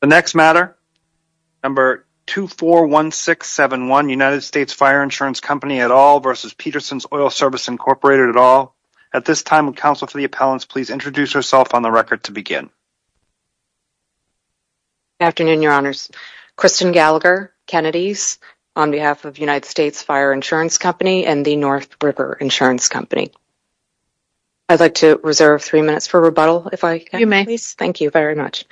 The next matter, number 241671, United States Fire Insurance Company et al. versus Peterson's Oil Service, Incorporated et al. At this time, would counsel for the appellants please introduce yourself on the record to begin. Good afternoon, your honors. Kristen Gallagher, Kennedys, on behalf of United States Fire Insurance Company and the North River Insurance Company. I'd like to reserve three minutes for rebuttal if I can. You may. Thank you very much.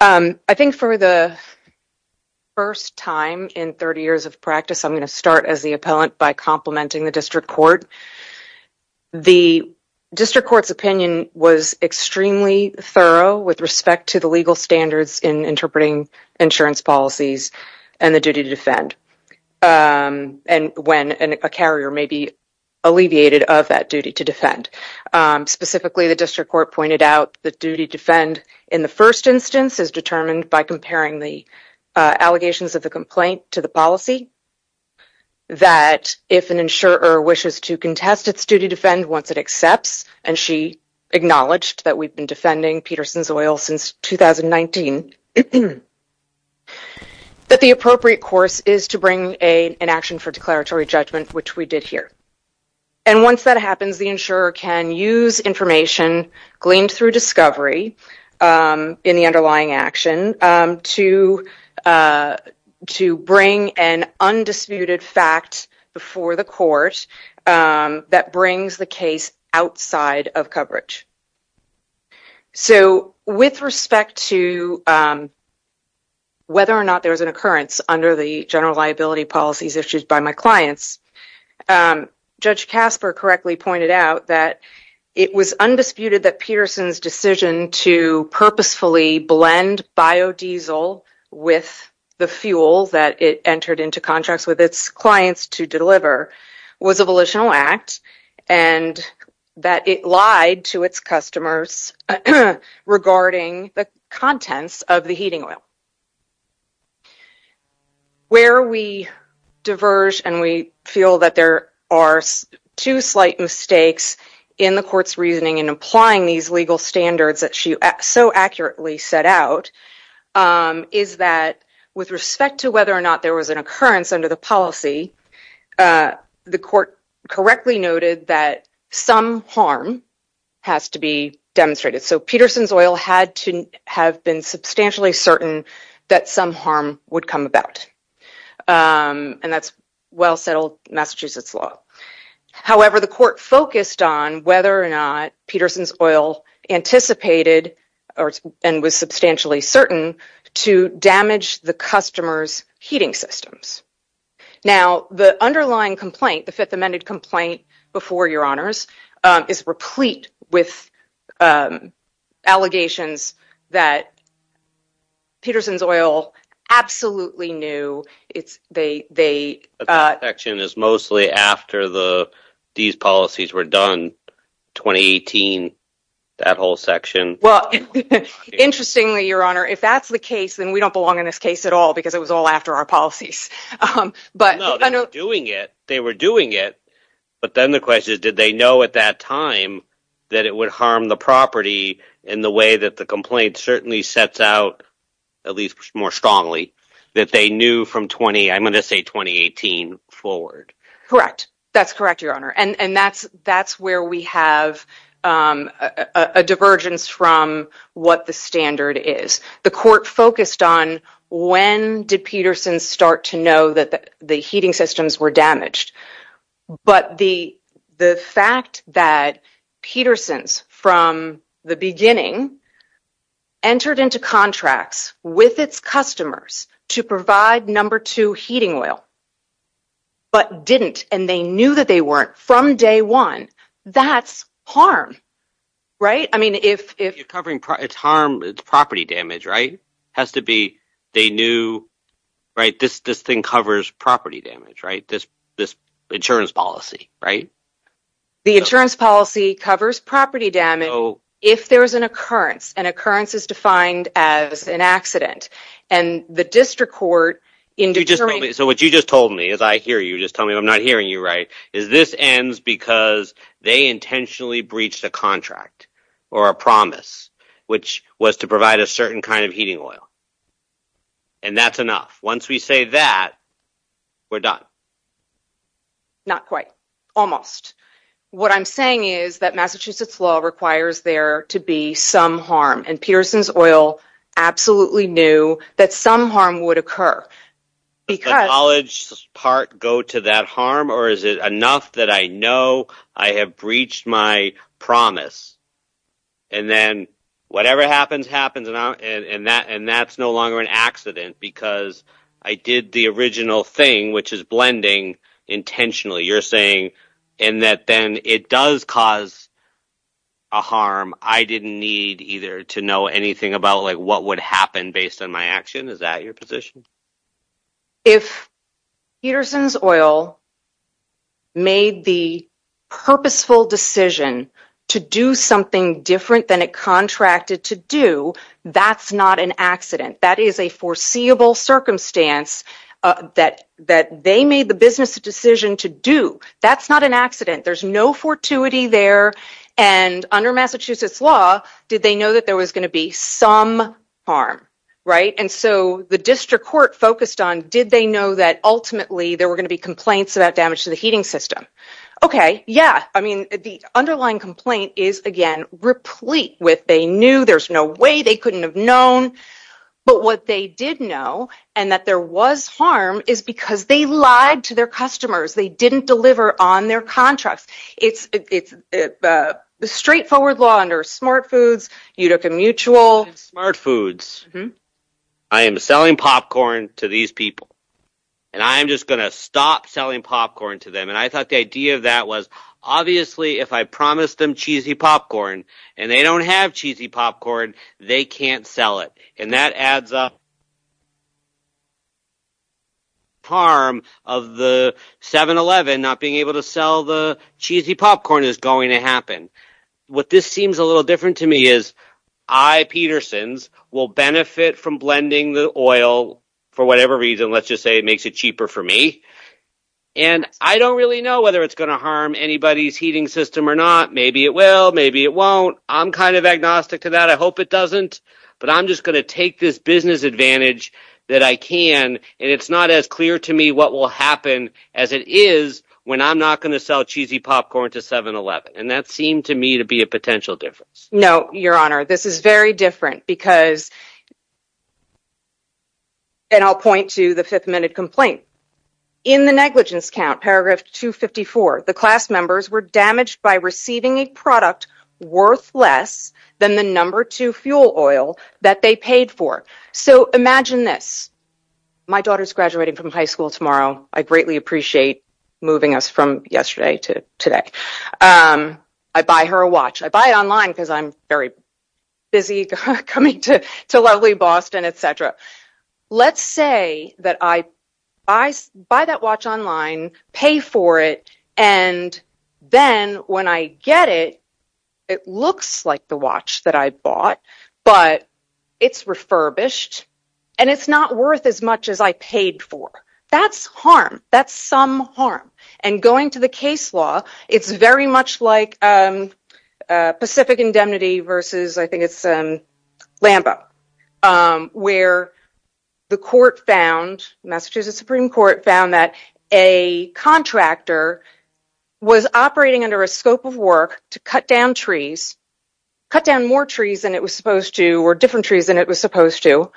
I think for the first time in 30 years of practice, I'm going to start as the appellant by complimenting the district court. The district court's opinion was extremely thorough with respect to the legal standards in interpreting insurance policies and the duty to defend. And when a carrier may be alleviated of that duty to defend. Specifically, the district court pointed out the duty to defend in the first instance is determined by comparing the allegations of the complaint to the policy. That if an insurer wishes to contest its duty to defend once it accepts, and she acknowledged that we've been defending Peterson's Oil since 2019, that the appropriate course is to bring an action for declaratory judgment, which we did here. And once that happens, the insurer can use information gleaned through discovery in the underlying action to bring an undisputed fact before the court that brings the case outside of coverage. So, with respect to whether or not there was an occurrence under the general liability policies issued by my clients, Judge Casper correctly pointed out that it was undisputed that Peterson's decision to purposefully blend biodiesel with the fuel that it entered into contracts with its clients to deliver was a volitional act and that it lied to its customers regarding the contents of the heating oil. Where we diverge and we feel that there are two slight mistakes in the court's reasoning in applying these legal standards that she so accurately set out is that with respect to whether or not there was an occurrence under the policy, the court correctly noted that some harm has to be demonstrated. So, Peterson's Oil had to have been substantially certain that some harm would come about. And that's well settled Massachusetts law. However, the court focused on whether or not Peterson's Oil anticipated and was substantially certain to damage the customer's heating systems. Now, the underlying complaint, the fifth amended complaint before your honors, is replete with allegations that Peterson's Oil absolutely knew. The section is mostly after these policies were done, 2018, that whole section. Interestingly, your honor, if that's the case, then we don't belong in this case at all because it was all after our policies. No, they were doing it, but then the question is did they know at that time that it would harm the property in the way that the complaint certainly sets out, at least more strongly. That they knew from 20, I'm going to say 2018 forward. Correct. That's correct, your honor. And that's where we have a divergence from what the standard is. The court focused on when did Peterson's start to know that the heating systems were damaged. But the fact that Peterson's from the beginning entered into contracts with its customers to provide number two heating oil, but didn't and they knew that they weren't from day one, that's harm. It's property damage, right? This thing covers property damage, right? This insurance policy, right? The insurance policy covers property damage if there is an occurrence. An occurrence is defined as an accident. So what you just told me, as I hear you, just tell me if I'm not hearing you right, is this ends because they intentionally breached a contract or a promise which was to provide a certain kind of heating oil. And that's enough. Once we say that, we're done. Not quite. Almost. What I'm saying is that Massachusetts law requires there to be some harm. And Peterson's oil absolutely knew that some harm would occur. Does the knowledge part go to that harm or is it enough that I know I have breached my promise? And then whatever happens, happens. And that's no longer an accident because I did the original thing, which is blending intentionally. You're saying in that then it does cause a harm. I didn't need either to know anything about like what would happen based on my action. Is that your position? If Peterson's oil made the purposeful decision to do something different than it contracted to do, that's not an accident. That is a foreseeable circumstance that that they made the business decision to do. That's not an accident. There's no fortuity there. And under Massachusetts law, did they know that there was going to be some harm? Right. And so the district court focused on did they know that ultimately there were going to be complaints about damage to the heating system? OK, yeah. I mean, the underlying complaint is, again, replete with they knew there's no way they couldn't have known. But what they did know and that there was harm is because they lied to their customers. They didn't deliver on their contracts. It's a straightforward law under Smart Foods, Utica Mutual. Smart Foods, I am selling popcorn to these people and I am just going to stop selling popcorn to them. And I thought the idea of that was obviously if I promised them cheesy popcorn and they don't have cheesy popcorn, they can't sell it. That's a. Harm of the 7-Eleven not being able to sell the cheesy popcorn is going to happen. What this seems a little different to me is I, Peterson's, will benefit from blending the oil for whatever reason. Let's just say it makes it cheaper for me. And I don't really know whether it's going to harm anybody's heating system or not. Maybe it will. Maybe it won't. I'm kind of agnostic to that. I hope it doesn't. But I'm just going to take this business advantage that I can. And it's not as clear to me what will happen as it is when I'm not going to sell cheesy popcorn to 7-Eleven. And that seemed to me to be a potential difference. No, Your Honor, this is very different because. And I'll point to the fifth minute complaint. In the negligence count, paragraph 254, the class members were damaged by receiving a product worth less than the number two fuel oil that they paid for. So imagine this. My daughter's graduating from high school tomorrow. I greatly appreciate moving us from yesterday to today. I buy her a watch. I buy it online because I'm very busy coming to lovely Boston, etc. Let's say that I buy that watch online, pay for it. And then when I get it, it looks like the watch that I bought, but it's refurbished and it's not worth as much as I paid for. That's harm. That's some harm. And going to the case law, it's very much like Pacific Indemnity versus, I think it's Lambo. Where the court found, Massachusetts Supreme Court found that a contractor was operating under a scope of work to cut down trees, cut down more trees than it was supposed to or different trees than it was supposed to.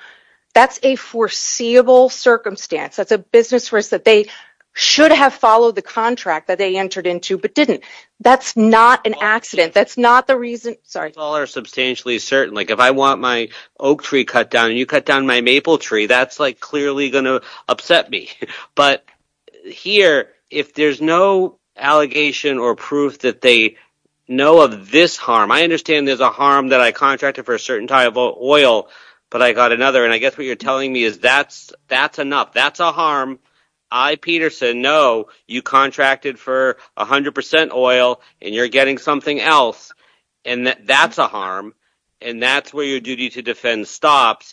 That's a foreseeable circumstance. That's a business risk that they should have followed the contract that they entered into, but didn't. That's not an accident. That's not the reason. All are substantially certain. If I want my oak tree cut down and you cut down my maple tree, that's clearly going to upset me. But here, if there's no allegation or proof that they know of this harm, I understand there's a harm that I contracted for a certain type of oil, but I got another. And I guess what you're telling me is that's enough. That's a harm. I, Peterson, know you contracted for 100% oil and you're getting something else. That's a harm and that's where your duty to defend stops,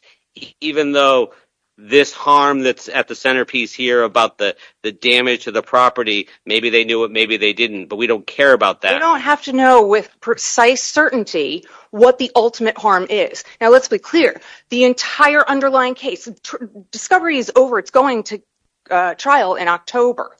even though this harm that's at the centerpiece here about the damage to the property, maybe they knew it, maybe they didn't. But we don't care about that. You don't have to know with precise certainty what the ultimate harm is. Now, let's be clear. The entire underlying case, discovery is over. It's going to trial in October.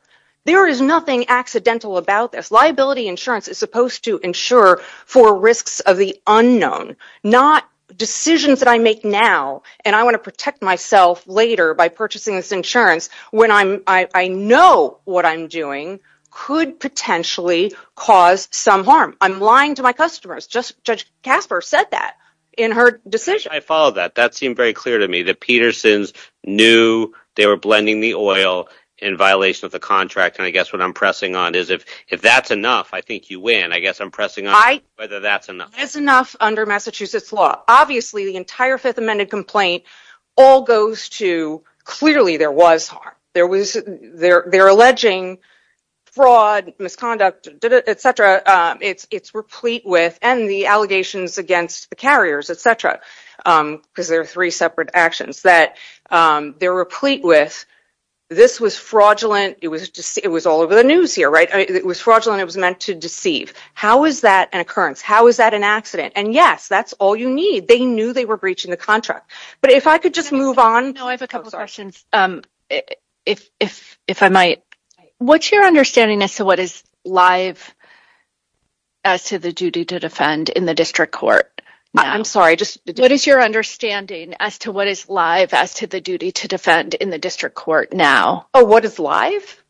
There is nothing accidental about this. Liability insurance is supposed to insure for risks of the unknown, not decisions that I make now and I want to protect myself later by purchasing this insurance when I know what I'm doing could potentially cause some harm. I'm lying to my customers. Judge Casper said that in her decision. I followed that. That seemed very clear to me. The Petersons knew they were blending the oil in violation of the contract. And I guess what I'm pressing on is if that's enough, I think you win. I guess I'm pressing on whether that's enough. That's enough under Massachusetts law. Obviously, the entire Fifth Amendment complaint all goes to clearly there was harm. They're alleging fraud, misconduct, etc. It's replete with and the allegations against the carriers, etc. Because there are three separate actions that they're replete with. This was fraudulent. It was just it was all over the news here, right? It was fraudulent. It was meant to deceive. How is that an occurrence? How is that an accident? And yes, that's all you need. They knew they were breaching the contract. But if I could just move on. I have a couple of questions. If I might. What's your understanding as to what is live as to the duty to defend in the district court? I'm sorry. Just what is your understanding as to what is live as to the duty to defend in the district court now? Oh, what is live?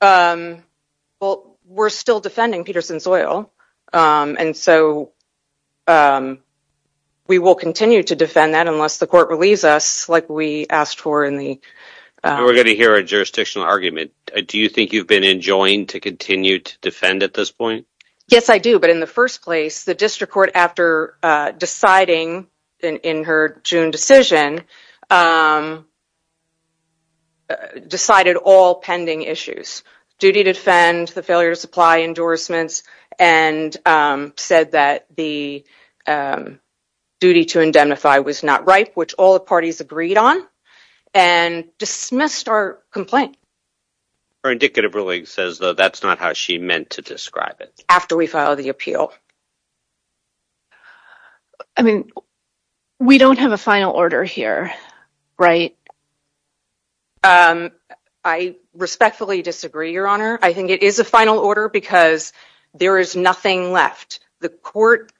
Well, we're still defending Peterson's oil. And so we will continue to defend that unless the court relieves us like we asked for in the. We're going to hear a jurisdictional argument. Do you think you've been enjoying to continue to defend at this point? Yes, I do. But in the first place, the district court, after deciding in her June decision. Decided all pending issues, duty to defend the failure to supply endorsements and said that the duty to indemnify was not right, which all the parties agreed on and dismissed our complaint. Her indicative really says, though, that's not how she meant to describe it after we filed the appeal. I mean, we don't have a final order here, right? I respectfully disagree, Your Honor. I think it is a final order because there is nothing left. The court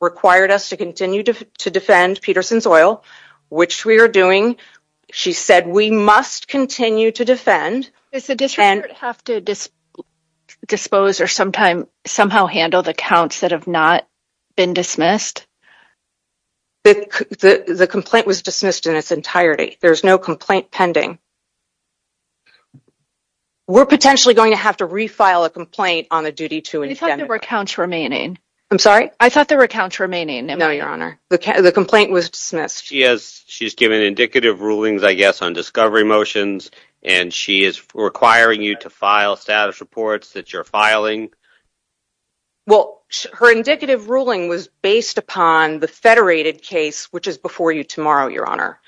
required us to continue to defend Peterson's oil, which we are doing. She said we must continue to defend. Does the district court have to dispose or somehow handle the counts that have not been dismissed? The complaint was dismissed in its entirety. There is no complaint pending. We're potentially going to have to refile a complaint on the duty to indemnify. I thought there were counts remaining. I'm sorry? I thought there were counts remaining. No, Your Honor. The complaint was dismissed. She has given indicative rulings, I guess, on discovery motions, and she is requiring you to file status reports that you're filing. Well, her indicative ruling was based upon the federated case, which is before you tomorrow, Your Honor.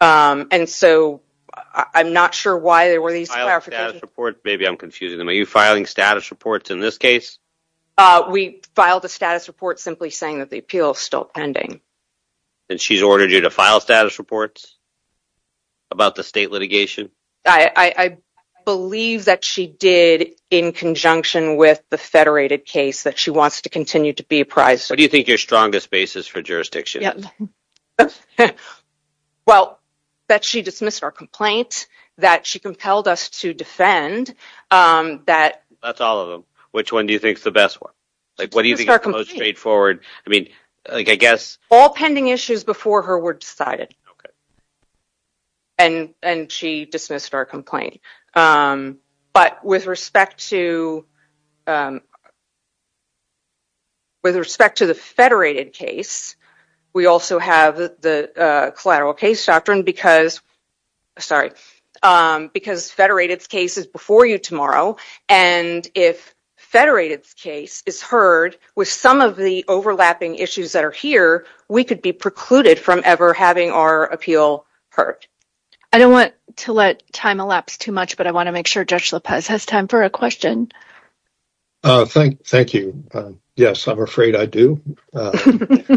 And so I'm not sure why there were these clarifications. Maybe I'm confusing them. Are you filing status reports in this case? We filed a status report simply saying that the appeal is still pending. And she's ordered you to file status reports about the state litigation? I believe that she did in conjunction with the federated case that she wants to continue to be apprised of. What do you think your strongest basis for jurisdiction is? Well, that she dismissed our complaint, that she compelled us to defend, that... That's all of them. Which one do you think is the best one? What do you think is the most straightforward? I mean, I guess... All pending issues before her were decided. Okay. And she dismissed our complaint. But with respect to the federated case, we also have the collateral case doctrine because... Sorry. Because federated case is before you tomorrow. And if federated case is heard with some of the overlapping issues that are here, we could be precluded from ever having our appeal heard. I don't want to let time elapse too much, but I want to make sure Judge Lopez has time for a question. Thank you. Yes, I'm afraid I do. The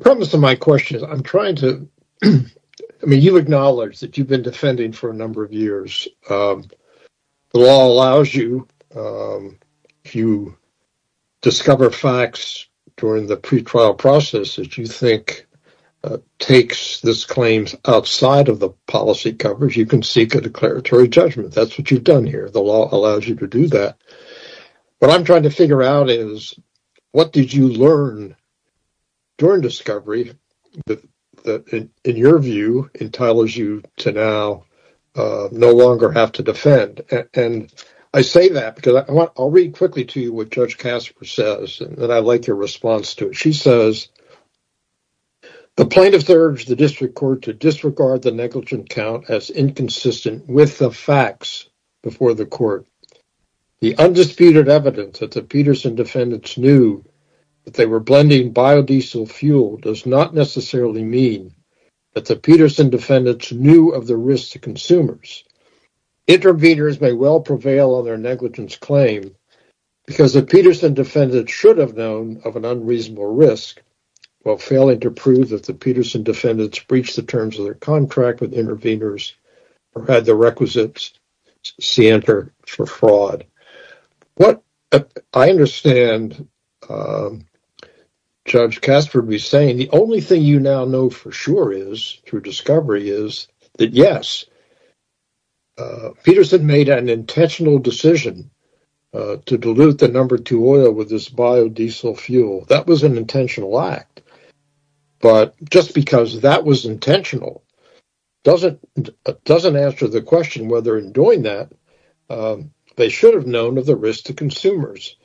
premise of my question is I'm trying to... I mean, you acknowledge that you've been defending for a number of years. The law allows you to discover facts during the pretrial process that you think takes this claim outside of the policy coverage. You can seek a declaratory judgment. That's what you've done here. The law allows you to do that. What I'm trying to figure out is what did you learn during discovery that, in your view, entitles you to now no longer have to defend? And I say that because... I'll read quickly to you what Judge Casper says, and I like your response to it. She says, the plaintiff urged the district court to disregard the negligent count as inconsistent with the facts before the court. The undisputed evidence that the Peterson defendants knew that they were blending biodiesel fuel does not necessarily mean that the Peterson defendants knew of the risks to consumers. Interveners may well prevail on their negligence claim because the Peterson defendants should have known of an unreasonable risk while failing to prove that the Peterson defendants breached the terms of their contract with interveners or had the requisites for fraud. What I understand Judge Casper be saying, the only thing you now know for sure is, through discovery, is that, yes, Peterson made an intentional decision to dilute the number two oil with this biodiesel fuel. That was an intentional act, but just because that was intentional doesn't answer the question whether, in doing that, they should have known of the risk to consumers.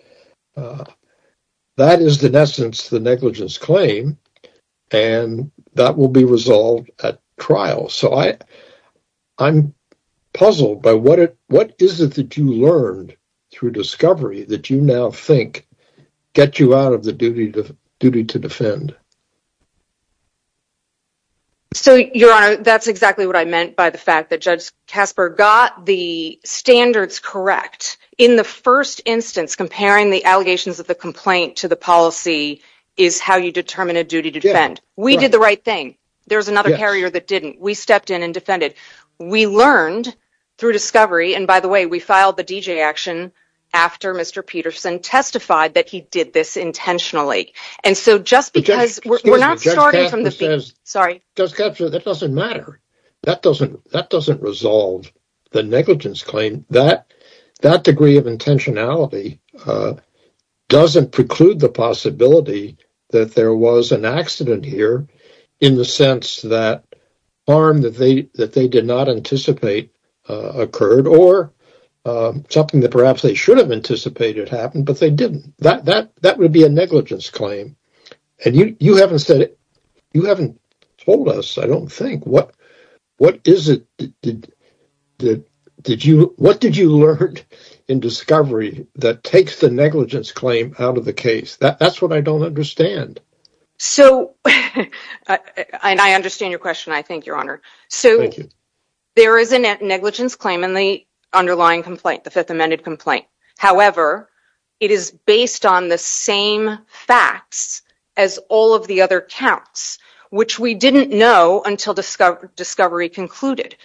That is, in essence, the negligence claim, and that will be resolved at trial. I'm puzzled by what is it that you learned through discovery that you now think gets you out of the duty to defend? Your Honor, that's exactly what I meant by the fact that Judge Casper got the standards correct. In the first instance, comparing the allegations of the complaint to the policy is how you determine a duty to defend. We did the right thing. There's another carrier that didn't. We stepped in and defended. We learned through discovery, and by the way, we filed the DJ action after Mr. Peterson testified that he did this intentionally. Judge Casper says that doesn't matter. That doesn't resolve the negligence claim. That degree of intentionality doesn't preclude the possibility that there was an accident here in the sense that harm that they did not anticipate occurred or something that perhaps they should have anticipated happened, but they didn't. That would be a negligence claim, and you haven't told us, I don't think. What did you learn in discovery that takes the negligence claim out of the case? That's what I don't understand. I understand your question, I think, Your Honor. There is a negligence claim in the underlying complaint, the Fifth Amended complaint. However, it is based on the same facts as all of the other counts, which we didn't know until discovery concluded.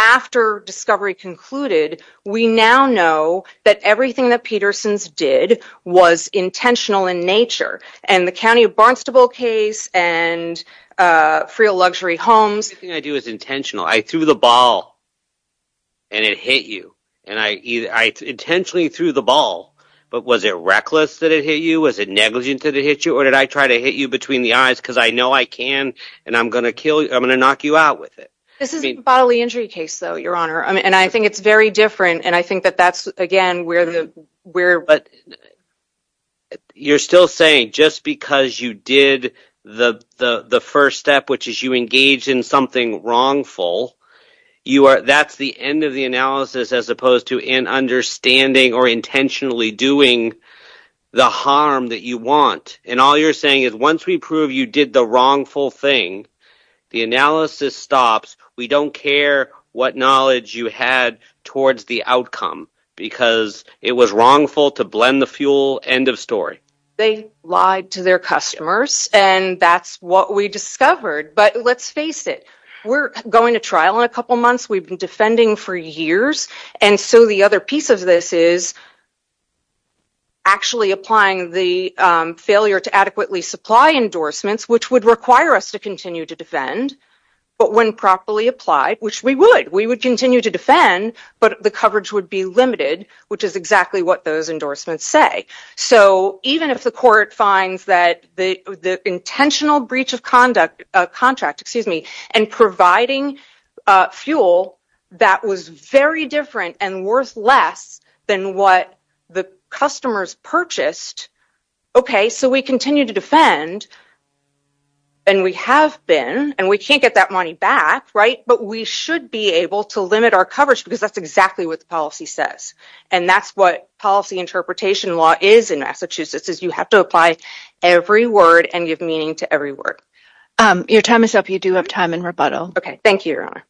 After discovery concluded, we now know that everything that Petersons did was intentional in nature, and the County of Barnstable case and Freeluxury Homes. Everything I do is intentional. I threw the ball, and it hit you. I intentionally threw the ball, but was it reckless that it hit you? Was it negligent that it hit you? Or did I try to hit you between the eyes because I know I can, and I'm going to knock you out with it? This is a bodily injury case, Your Honor, and I think it's very different. You're still saying just because you did the first step, which is you engaged in something wrongful, that's the end of the analysis as opposed to an understanding or intentionally doing the harm that you want. All you're saying is once we prove you did the wrongful thing, the analysis stops. We don't care what knowledge you had towards the outcome because it was wrongful to blend the fuel. End of story. They lied to their customers, and that's what we discovered, but let's face it. We're going to trial in a couple months. We've been defending for years, and so the other piece of this is actually applying the failure to adequately supply endorsements, which would require us to continue to defend, but when properly applied, which we would. We would continue to defend, but the coverage would be limited, which is exactly what those endorsements say. Even if the court finds that the intentional breach of contract and providing fuel that was very different and worth less than what the customers purchased. Okay, so we continue to defend, and we have been, and we can't get that money back, but we should be able to limit our coverage because that's exactly what the policy says. And that's what policy interpretation law is in Massachusetts, is you have to apply every word and give meaning to every word. Your time is up. You do have time in rebuttal. Okay. Thank you, Your Honor.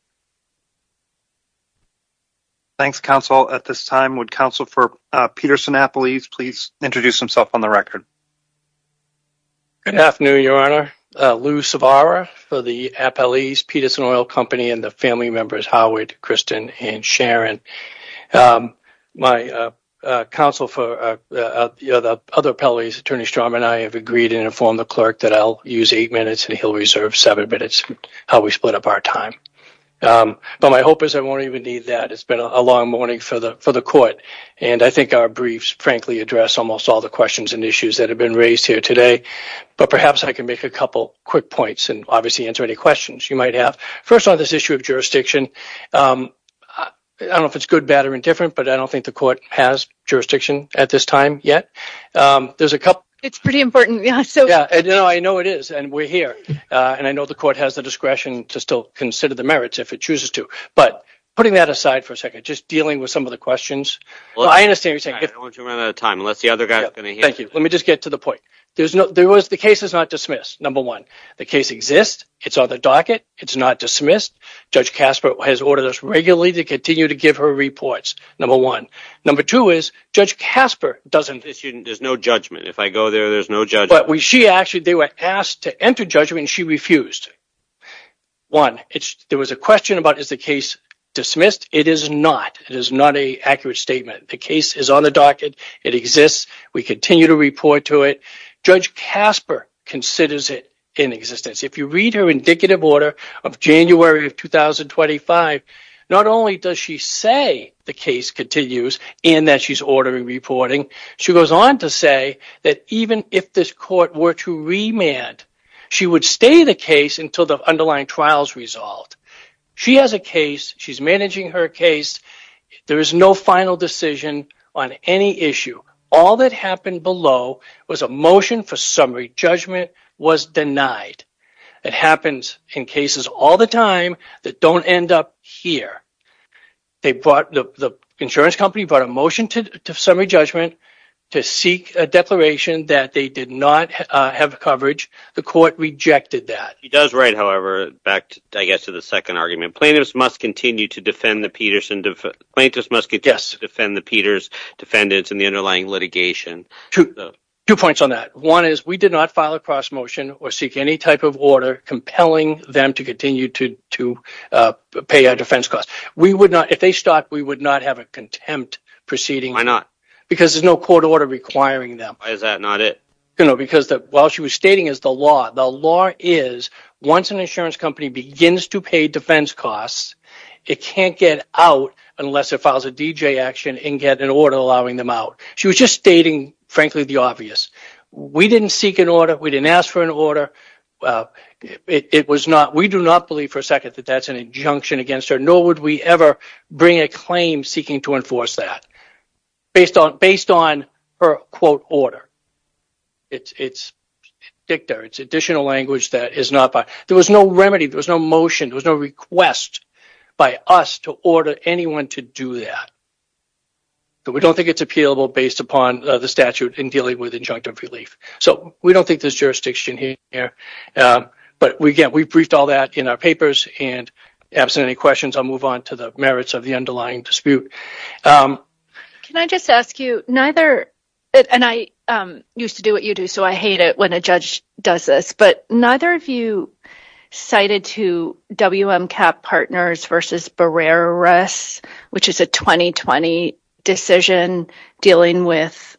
Thanks, counsel. At this time, would counsel for Peterson Appalese please introduce himself on the record? Good afternoon, Your Honor. Lou Savara for the Appalese Peterson Oil Company and the family members, Howard, Kristen, and Sharon. My counsel for the other Appalese, Attorney Strom and I have agreed and informed the clerk that I'll use eight minutes and he'll reserve seven minutes. How we split up our time. But my hope is I won't even need that. It's been a long morning for the court. And I think our briefs frankly address almost all the questions and issues that have been raised here today. But perhaps I can make a couple quick points and obviously answer any questions you might have. First on this issue of jurisdiction, I don't know if it's good, bad, or indifferent, but I don't think the court has jurisdiction at this time yet. It's pretty important. I know it is and we're here. And I know the court has the discretion to still consider the merits if it chooses to. But putting that aside for a second, just dealing with some of the questions. I understand what you're saying. I don't want to run out of time unless the other guy is going to answer. Thank you. Let me just get to the point. The case is not dismissed, number one. The case exists. It's on the docket. It's not dismissed. Judge Casper has ordered us regularly to continue to give her reports, number one. Number two is Judge Casper doesn't... There's no judgment. If I go there, there's no judgment. She actually, they were asked to enter judgment and she refused. One, there was a question about is the case dismissed. It is not. It is not an accurate statement. The case is on the docket. It exists. We continue to report to it. Judge Casper considers it in existence. If you read her indicative order of January of 2025, not only does she say the case continues and that she's ordering reporting, she goes on to say that even if this court were to remand, she would stay the case until the underlying trial is resolved. She has a case. She's managing her case. There is no final decision on any issue. All that happened below was a motion for summary judgment was denied. It happens in cases all the time that don't end up here. The insurance company brought a motion to summary judgment to seek a declaration that they did not have coverage. The court rejected that. She does write, however, back to the second argument. Plaintiffs must continue to defend the Peters defendants in the underlying litigation. Two points on that. One is we did not file a cross motion or seek any type of order compelling them to continue to pay our defense costs. If they stopped, we would not have a contempt proceeding. Why not? Because there's no court order requiring them. Why is that not it? Because what she was stating is the law. The law is once an insurance company begins to pay defense costs, it can't get out unless it files a D.J. action and get an order allowing them out. She was just stating, frankly, the obvious. We didn't seek an order. We didn't ask for an order. We do not believe for a second that that's an injunction against her, nor would we ever bring a claim seeking to enforce that based on her quote order. It's dicta. It's additional language. There was no remedy. There was no motion. There was no request by us to order anyone to do that. We don't think it's appealable based upon the statute in dealing with injunctive relief. So we don't think there's jurisdiction here. But again, we briefed all that in our papers. And absent any questions, I'll move on to the merits of the underlying dispute. Can I just ask you neither? And I used to do what you do, so I hate it when a judge does this. But neither of you cited to W.M. Kapp Partners versus Barrera Russ, which is a 2020 decision dealing with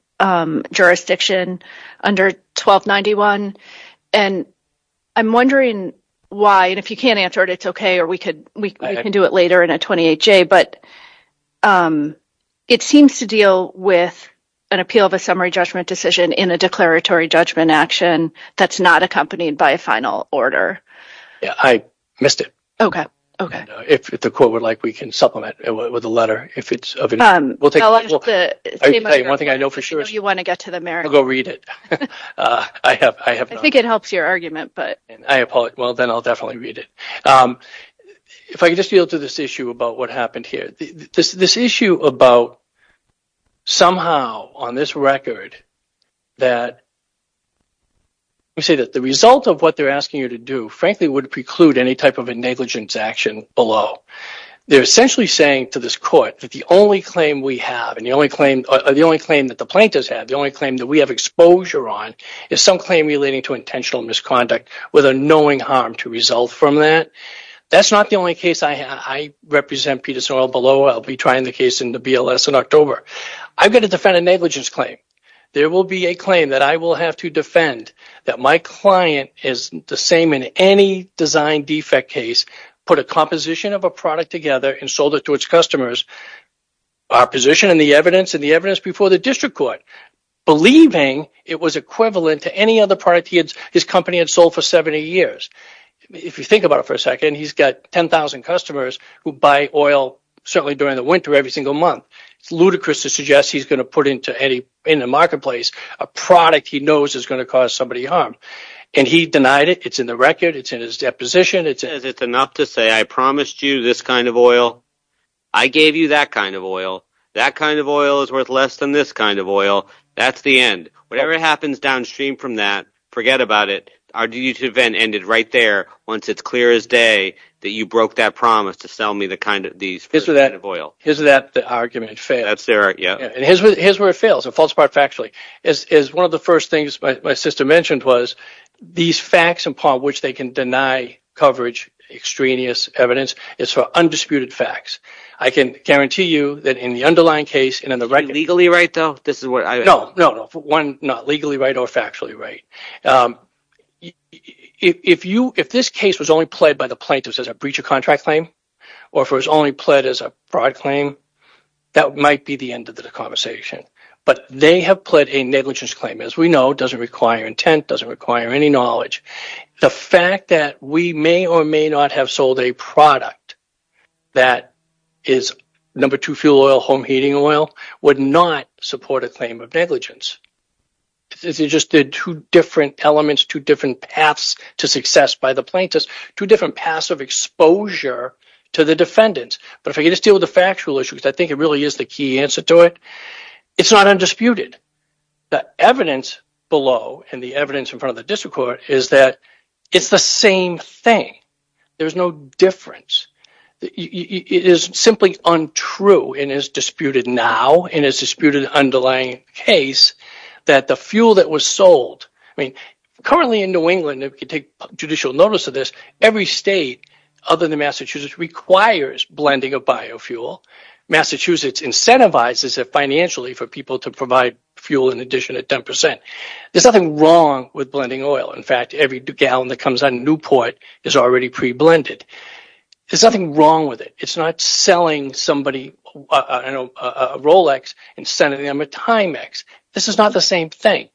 jurisdiction under 1291. And I'm wondering why. And if you can't answer it, it's OK, or we could we can do it later in a 28 J. But it seems to deal with an appeal of a summary judgment decision in a declaratory judgment action. That's not accompanied by a final order. I missed it. OK, OK. If the court would like, we can supplement it with a letter. We'll take one thing I know for sure. You want to get to the merits. Go read it. I think it helps your argument, but I apologize. Well, then I'll definitely read it. If I could just deal to this issue about what happened here. This issue about somehow on this record that you say that the result of what they're asking you to do, frankly, would preclude any type of a negligence action below. They're essentially saying to this court that the only claim we have and the only claim or the only claim that the plaintiff's had, the only claim that we have exposure on is some claim relating to intentional misconduct with a knowing harm to result from that. That's not the only case I represent Peterson Oil below. I'll be trying the case in the BLS in October. I've got to defend a negligence claim. There will be a claim that I will have to defend that my client is the same in any design defect case, put a composition of a product together and sold it to its customers. Our position in the evidence and the evidence before the district court, believing it was equivalent to any other product his company had sold for 70 years. If you think about it for a second, he's got 10,000 customers who buy oil certainly during the winter every single month. It's ludicrous to suggest he's going to put in a marketplace a product he knows is going to cause somebody harm and he denied it. It's in the record. It's in his deposition. He says it's enough to say I promised you this kind of oil. I gave you that kind of oil. That kind of oil is worth less than this kind of oil. That's the end. Whatever happens downstream from that, forget about it. Our huge event ended right there once it's clear as day that you broke that promise to sell me this kind of oil. Here's where it fails. One of the first things my sister mentioned was these facts upon which they can deny coverage, extraneous evidence, is for undisputed facts. I can guarantee you that in the underlying case and in the legal right, if this case was only pled by the plaintiffs as a breach of contract claim or if it was only pled as a fraud claim, that might be the end of the conversation, but they have pled a negligence claim as we know. It doesn't require intent. It doesn't require any knowledge. The fact that we may or may not have sold a product that is number two fuel oil, home heating oil, would not support a claim of negligence. These are just two different elements, two different paths to success by the plaintiffs, two different paths of exposure to the defendants. But if you just deal with the factual issues, I think it really is the key answer to it. It's not undisputed. The evidence below and the evidence in front of the district court is that it's the same thing. There's no difference. It is simply untrue and is disputed now in this disputed underlying case that the fuel that was sold, currently in New England, every state other than Massachusetts requires blending of biofuel. Massachusetts incentivizes it financially for people to provide fuel in addition at 10%. There's nothing wrong with blending oil. In fact, every gallon that comes on Newport is already pre-blended. There's nothing wrong with it. It's not selling a Rolex and sending them a Timex. This is not the same thing.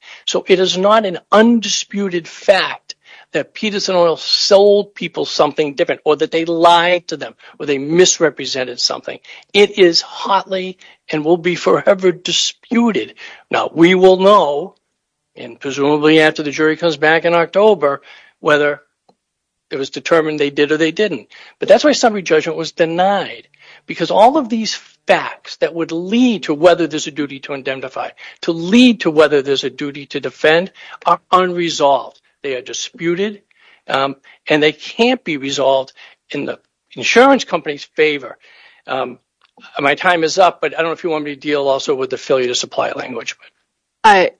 It is not an undisputed fact that Peterson Oil sold people something different or that they lied to them or they misrepresented something. It is hotly and will be forever disputed. We will know, presumably after the jury comes back in October, whether it was determined they did or they didn't. This summary judgment was denied because all of these facts that would lead to whether there's a duty to indemnify, to lead to whether there's a duty to defend, are unresolved. They are disputed and they can't be resolved in the insurance company's favor. My time is up, but I don't know if you want me to deal also with the failure to supply language. I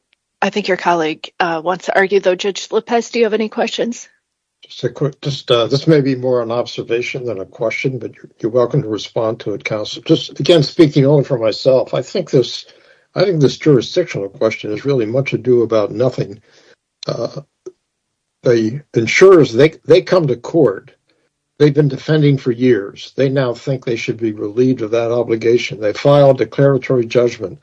think your colleague wants to argue, though. Judge Lopez, do you have any questions? This may be more an observation than a question, but you're welcome to respond to it, counsel. Again, speaking only for myself, I think this jurisdictional question is really much ado about nothing. The insurers come to court. They've been defending for years. They now think they should be relieved of that obligation. They file a declaratory judgment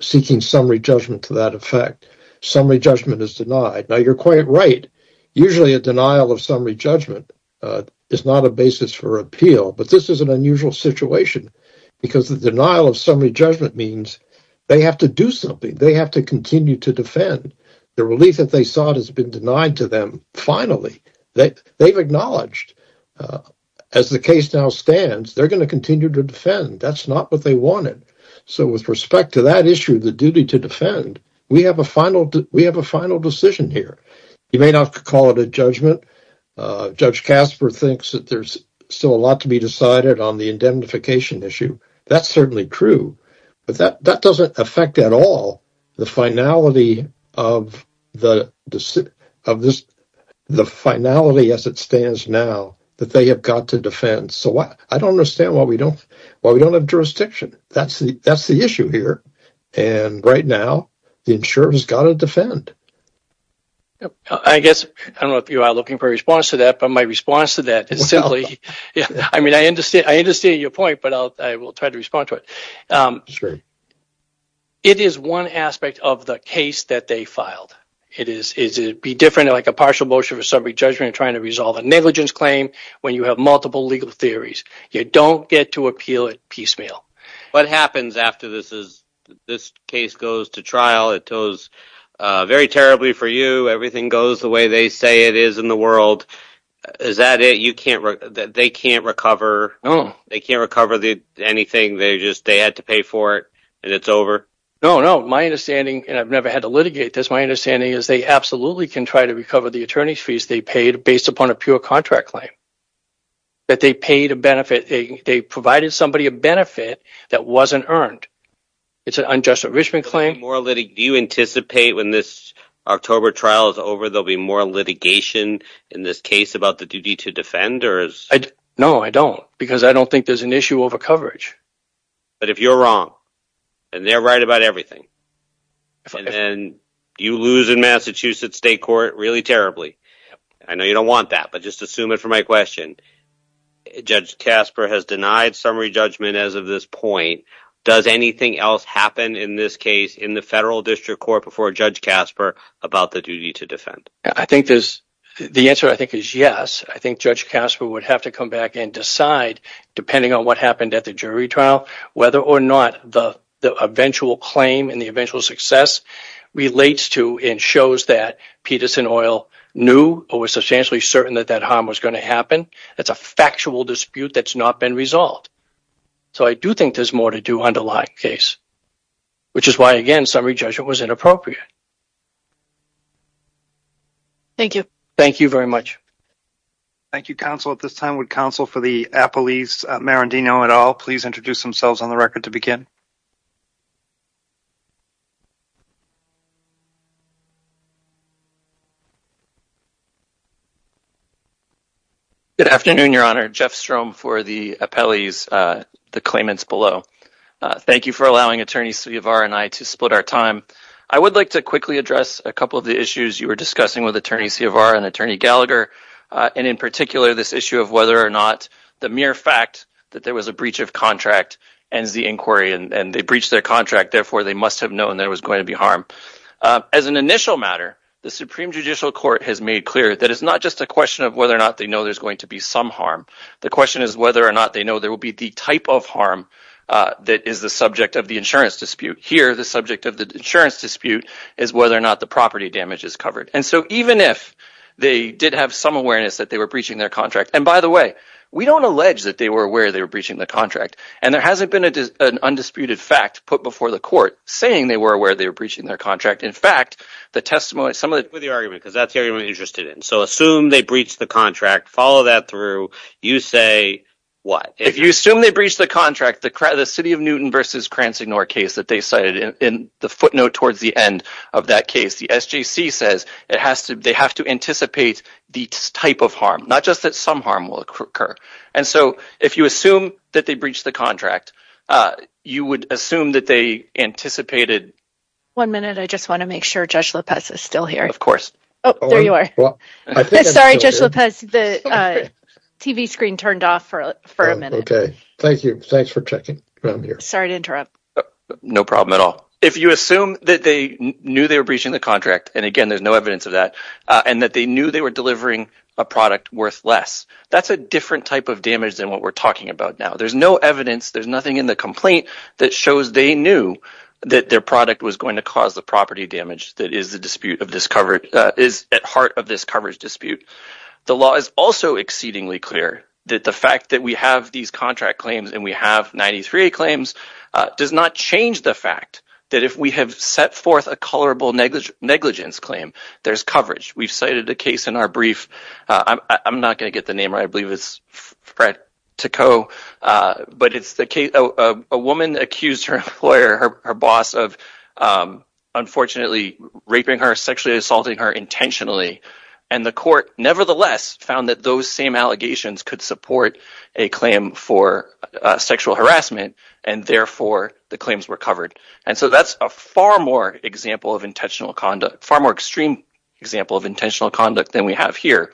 seeking summary judgment to that effect. Summary judgment is denied. Now, you're quite right. Usually a denial of summary judgment is not a basis for appeal. But this is an unusual situation because the denial of summary judgment means they have to do something. They have to continue to defend. The relief that they sought has been denied to them. Finally, they've acknowledged as the case now stands, they're going to continue to defend. That's not what they wanted. So with respect to that issue, the duty to defend, we have a final decision here. You may not call it a judgment. Judge Casper thinks that there's still a lot to be decided on the indemnification issue. That's certainly true, but that doesn't affect at all the finality as it stands now that they have got to defend. I don't understand why we don't have jurisdiction. That's the issue here. Right now, the insurer has got to defend. I guess, I don't know if you are looking for a response to that, but my response to that is simply... I mean, I understand your point, but I will try to respond to it. It is one aspect of the case that they filed. It is different than a partial motion for summary judgment and trying to resolve a negligence claim when you have multiple legal theories. You don't get to appeal it piecemeal. What happens after this case goes to trial? It goes very terribly for you. Everything goes the way they say it is in the world. Is that it? They can't recover anything? They had to pay for it and it's over? No, no. My understanding, and I've never had to litigate this, my understanding is they absolutely can try to recover the attorney's fees they paid based upon a pure contract claim. They provided somebody a benefit that wasn't earned. It's an unjust enrichment claim. Do you anticipate when this October trial is over, there will be more litigation in this case about the duty to defend? No, I don't, because I don't think there is an issue over coverage. But if you are wrong, and they are right about everything, and you lose in Massachusetts State Court really terribly, I know you don't want that, but just assume it for my question, Judge Casper has denied summary judgment as of this point. Does anything else happen in this case in the federal district court before Judge Casper about the duty to defend? The answer I think is yes. I think Judge Casper would have to come back and decide, depending on what happened at the jury trial, whether or not the eventual claim and the eventual success relates to and shows that Peterson Oil knew or was substantially certain that that harm was going to happen. That's a factual dispute that's not been resolved. So I do think there's more to do on the Lyon case, which is why, again, summary judgment was inappropriate. Thank you. Thank you very much. Thank you, counsel. At this time, would counsel for the appellees, Marendino et al., please introduce themselves on the record to begin? Good afternoon, Your Honor. Jeff Strom for the appellees, the claimants below. Thank you for allowing Attorney Ciavar and I to split our time. I would like to quickly address a couple of the issues you were discussing with Attorney Ciavar and Attorney Gallagher. And in particular, this issue of whether or not the mere fact that there was a breach of contract ends the inquiry and they breached their contract. Therefore, they must have known there was going to be harm. As an initial matter, the Supreme Judicial Court has made clear that it's not just a question of whether or not they know there's going to be some harm. The question is whether or not they know there will be the type of harm that is the subject of the insurance dispute. Here, the subject of the insurance dispute is whether or not the property damage is covered. And so even if they did have some awareness that they were breaching their contract. And by the way, we don't allege that they were aware they were breaching the contract. And there hasn't been an undisputed fact put before the court saying they were aware they were breaching their contract. In fact, the testimony… I agree with your argument because that's the argument I'm interested in. So assume they breached the contract, follow that through, you say what? If you assume they breached the contract, the City of Newton v. Cransignor case that they cited in the footnote towards the end of that case, the SJC says they have to anticipate the type of harm, not just that some harm will occur. And so if you assume that they breached the contract, you would assume that they anticipated… One minute, I just want to make sure Judge Lopez is still here. Of course. Oh, there you are. Sorry, Judge Lopez, the TV screen turned off for a minute. Okay, thank you. Thanks for checking. Sorry to interrupt. No problem at all. If you assume that they knew they were breaching the contract, and again, there's no evidence of that, and that they knew they were delivering a product worth less, that's a different type of damage than what we're talking about now. There's no evidence. There's nothing in the complaint that shows they knew that their product was going to cause the property damage that is at heart of this coverage dispute. The law is also exceedingly clear that the fact that we have these contract claims, and we have 93 claims, does not change the fact that if we have set forth a colorable negligence claim, there's coverage. We've cited a case in our brief. I'm not going to get the name right. I believe it's Fred Ticot. But it's a woman accused her employer, her boss, of unfortunately raping her, sexually assaulting her intentionally. And the court, nevertheless, found that those same allegations could support a claim for sexual harassment, and therefore, the claims were covered. And so that's a far more example of intentional conduct, far more extreme example of intentional conduct than we have here.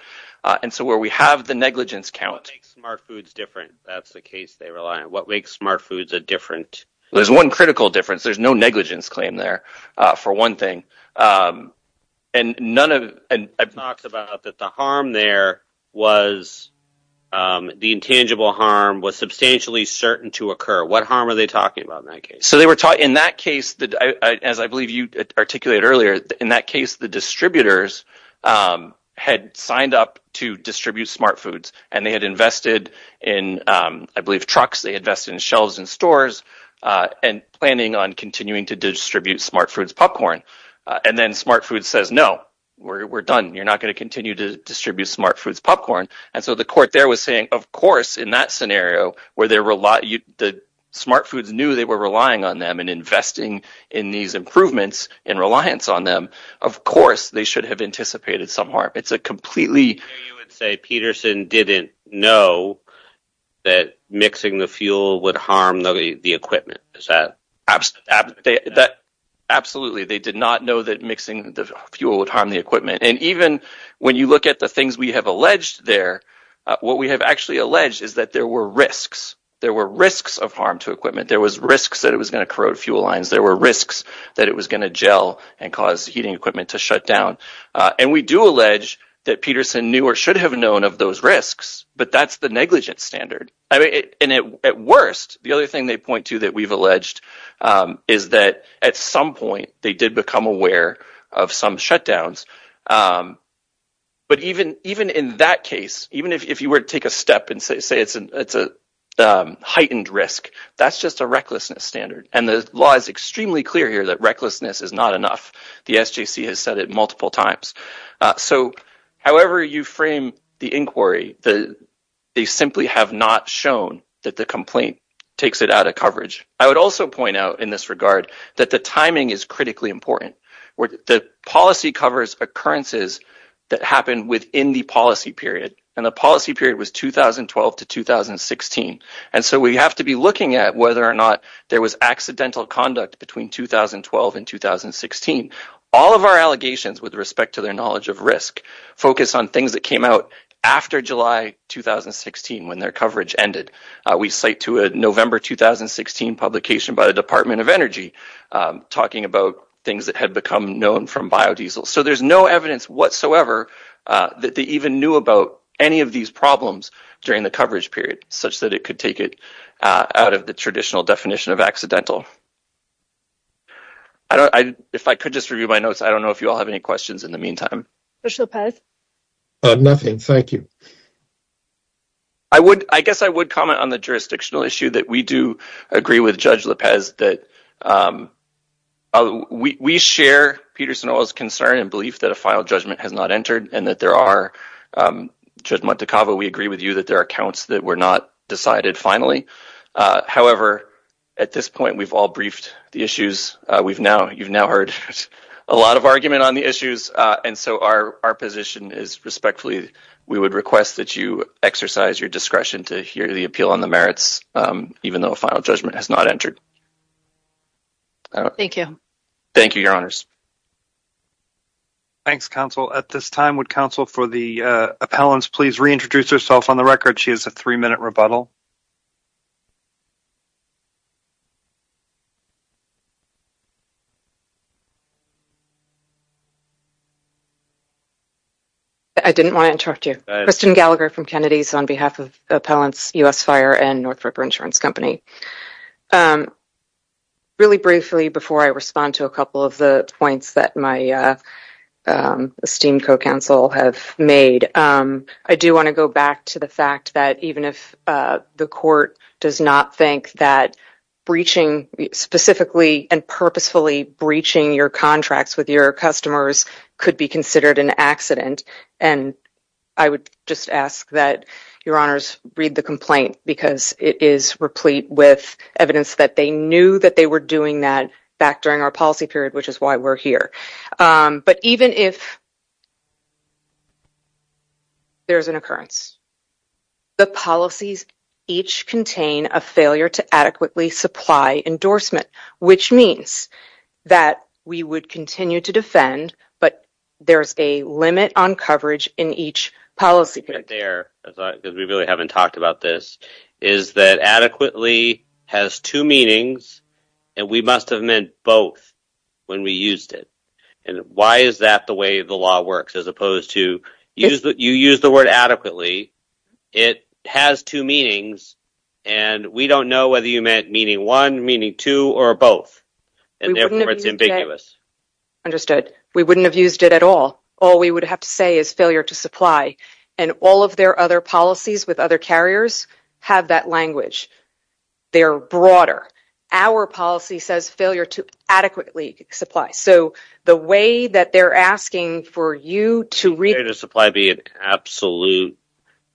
And so where we have the negligence count… What makes Smart Foods different. That's the case they rely on. What makes Smart Foods a different… There's one critical difference. There's no negligence claim there, for one thing. And I've talked about that the harm there was, the intangible harm was substantially certain to occur. What harm are they talking about in that case? So in that case, as I believe you articulated earlier, in that case, the distributors had signed up to distribute Smart Foods. And they had invested in, I believe, trucks, they invested in shelves in stores, and planning on continuing to distribute Smart Foods popcorn. And then Smart Foods says, no, we're done. You're not going to continue to distribute Smart Foods popcorn. And so the court there was saying, of course, in that scenario, where the Smart Foods knew they were relying on them and investing in these improvements in reliance on them, of course, they should have anticipated some harm. You would say Peterson didn't know that mixing the fuel would harm the equipment. Absolutely, they did not know that mixing the fuel would harm the equipment. And even when you look at the things we have alleged there, what we have actually alleged is that there were risks. There were risks of harm to equipment. There was risks that it was going to corrode fuel lines. There were risks that it was going to gel and cause heating equipment to shut down. And we do allege that Peterson knew or should have known of those risks, but that's the negligence standard. And at worst, the other thing they point to that we've alleged is that at some point they did become aware of some shutdowns. But even in that case, even if you were to take a step and say it's a heightened risk, that's just a recklessness standard. And the law is extremely clear here that recklessness is not enough. The SJC has said it multiple times. So however you frame the inquiry, they simply have not shown that the complaint takes it out of coverage. I would also point out in this regard that the timing is critically important. The policy covers occurrences that happen within the policy period, and the policy period was 2012 to 2016. And so we have to be looking at whether or not there was accidental conduct between 2012 and 2016. All of our allegations with respect to their knowledge of risk focus on things that came out after July 2016 when their coverage ended. We cite to a November 2016 publication by the Department of Energy talking about things that had become known from biodiesel. So there's no evidence whatsoever that they even knew about any of these problems during the coverage period, such that it could take it out of the traditional definition of accidental. If I could just review my notes, I don't know if you all have any questions in the meantime. Nothing, thank you. I guess I would comment on the jurisdictional issue that we do agree with Judge Lopez that we share Peter Sanoa's concern and belief that a final judgment has not entered, and that there are, Judge Montecava, we agree with you that there are counts that were not decided finally. However, at this point, we've all briefed the issues. You've now heard a lot of argument on the issues, and so our position is respectfully, we would request that you exercise your discretion to hear the appeal on the merits, even though a final judgment has not entered. Thank you. Thank you, Your Honors. Thanks, Counsel. At this time, would Counsel for the appellants please reintroduce herself on the record? She has a three-minute rebuttal. I didn't want to interrupt you. Kristen Gallagher from Kennedy's on behalf of Appellants U.S. Fire and North Ripper Insurance Company. Really briefly, before I respond to a couple of the points that my esteemed co-counsel have made, I do want to go back to the fact that even if the court does not think that breaching, specifically and purposefully breaching your contracts with your customers could be considered an accident, and I would just ask that Your Honors read the complaint, because it is replete with evidence that they knew that they were doing that back during our policy period, which is why we're here. But even if there's an occurrence, the policies each contain a failure to adequately supply endorsement, which means that we would continue to defend, but there's a limit on coverage in each policy period. What I meant there, because we really haven't talked about this, is that adequately has two meanings, and we must have meant both when we used it. And why is that the way the law works? As opposed to, you use the word adequately, it has two meanings, and we don't know whether you meant meaning one, meaning two, or both. And therefore it's ambiguous. Understood. We wouldn't have used it at all. All we would have to say is failure to supply. And all of their other policies with other carriers have that language. They're broader. Our policy says failure to adequately supply. So the way that they're asking for you to read... Failure to supply being an absolute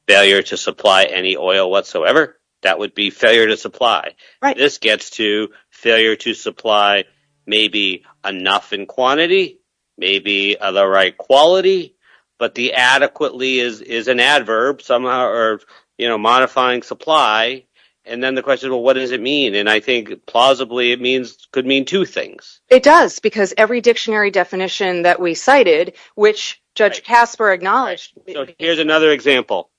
failure to supply any oil whatsoever, that would be failure to supply. This gets to failure to supply maybe enough in quantity, maybe of the right quality, but the adequately is an adverb, somehow, or modifying supply. And then the question is, well, what does it mean? And I think plausibly it could mean two things. It does, because every dictionary definition that we cited, which Judge Casper acknowledged... Here's another example.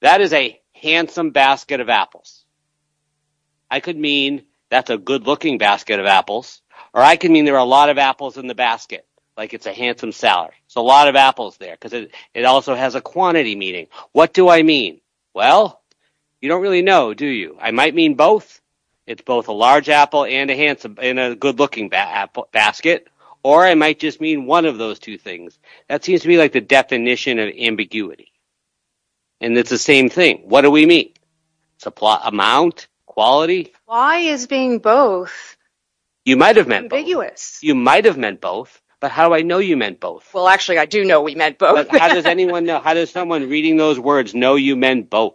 That is a handsome basket of apples. I could mean that's a good-looking basket of apples, or I could mean there are a lot of apples in the basket, like it's a handsome salary. There's a lot of apples there, because it also has a quantity meaning. What do I mean? Well, you don't really know, do you? I might mean both. It's both a large apple and a good-looking basket. Or I might just mean one of those two things. That seems to be like the definition of ambiguity. And it's the same thing. What do we mean? Amount? Quality? Why is being both ambiguous? You might have meant both. You might have meant both. But how do I know you meant both? Well, actually, I do know we meant both. How does someone reading those words know you meant both?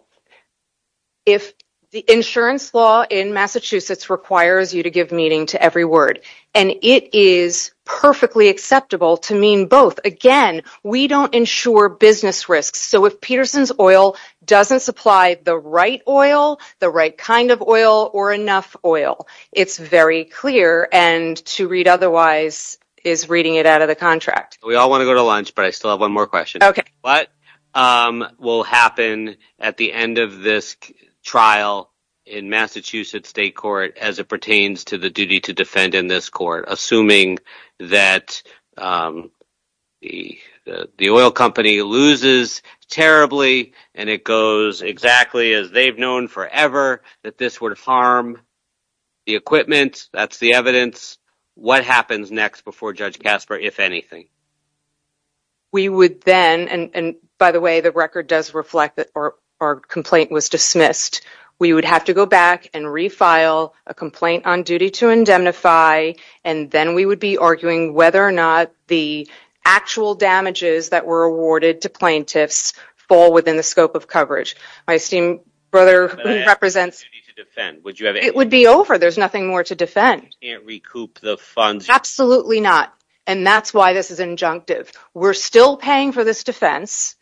The insurance law in Massachusetts requires you to give meaning to every word. And it is perfectly acceptable to mean both. Again, we don't insure business risks. So if Peterson's Oil doesn't supply the right oil, the right kind of oil, or enough oil, it's very clear. And to read otherwise is reading it out of the contract. We all want to go to lunch, but I still have one more question. What will happen at the end of this trial in Massachusetts State Court as it pertains to the duty to defend in this court, assuming that the oil company loses terribly and it goes exactly as they've known forever, that this would harm the equipment? That's the evidence. What happens next before Judge Casper, if anything? We would then, and by the way, the record does reflect that our complaint was dismissed. We would have to go back and refile a complaint on duty to indemnify, and then we would be arguing whether or not the actual damages that were awarded to plaintiffs fall within the scope of coverage. My esteemed brother, who represents... It would be over. There's nothing more to defend. You can't recoup the funds. Absolutely not. And that's why this is injunctive. We're still paying for this defense,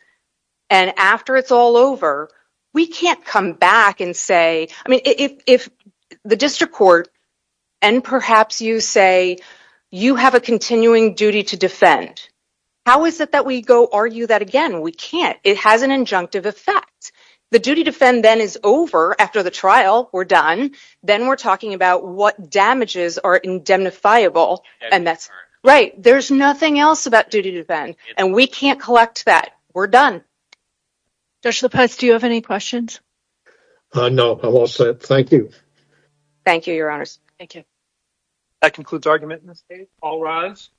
and after it's all over, we can't come back and say... I mean, if the district court, and perhaps you say, you have a continuing duty to defend, how is it that we go argue that again? We can't. It has an injunctive effect. The duty to defend then is over. After the trial, we're done. Then we're talking about what damages are indemnifiable, and that's... Right. There's nothing else about duty to defend, and we can't collect that. We're done. Judge Lopez, do you have any questions? No. I'm all set. Thank you. Thank you, Your Honors. That concludes argument in this case. All rise.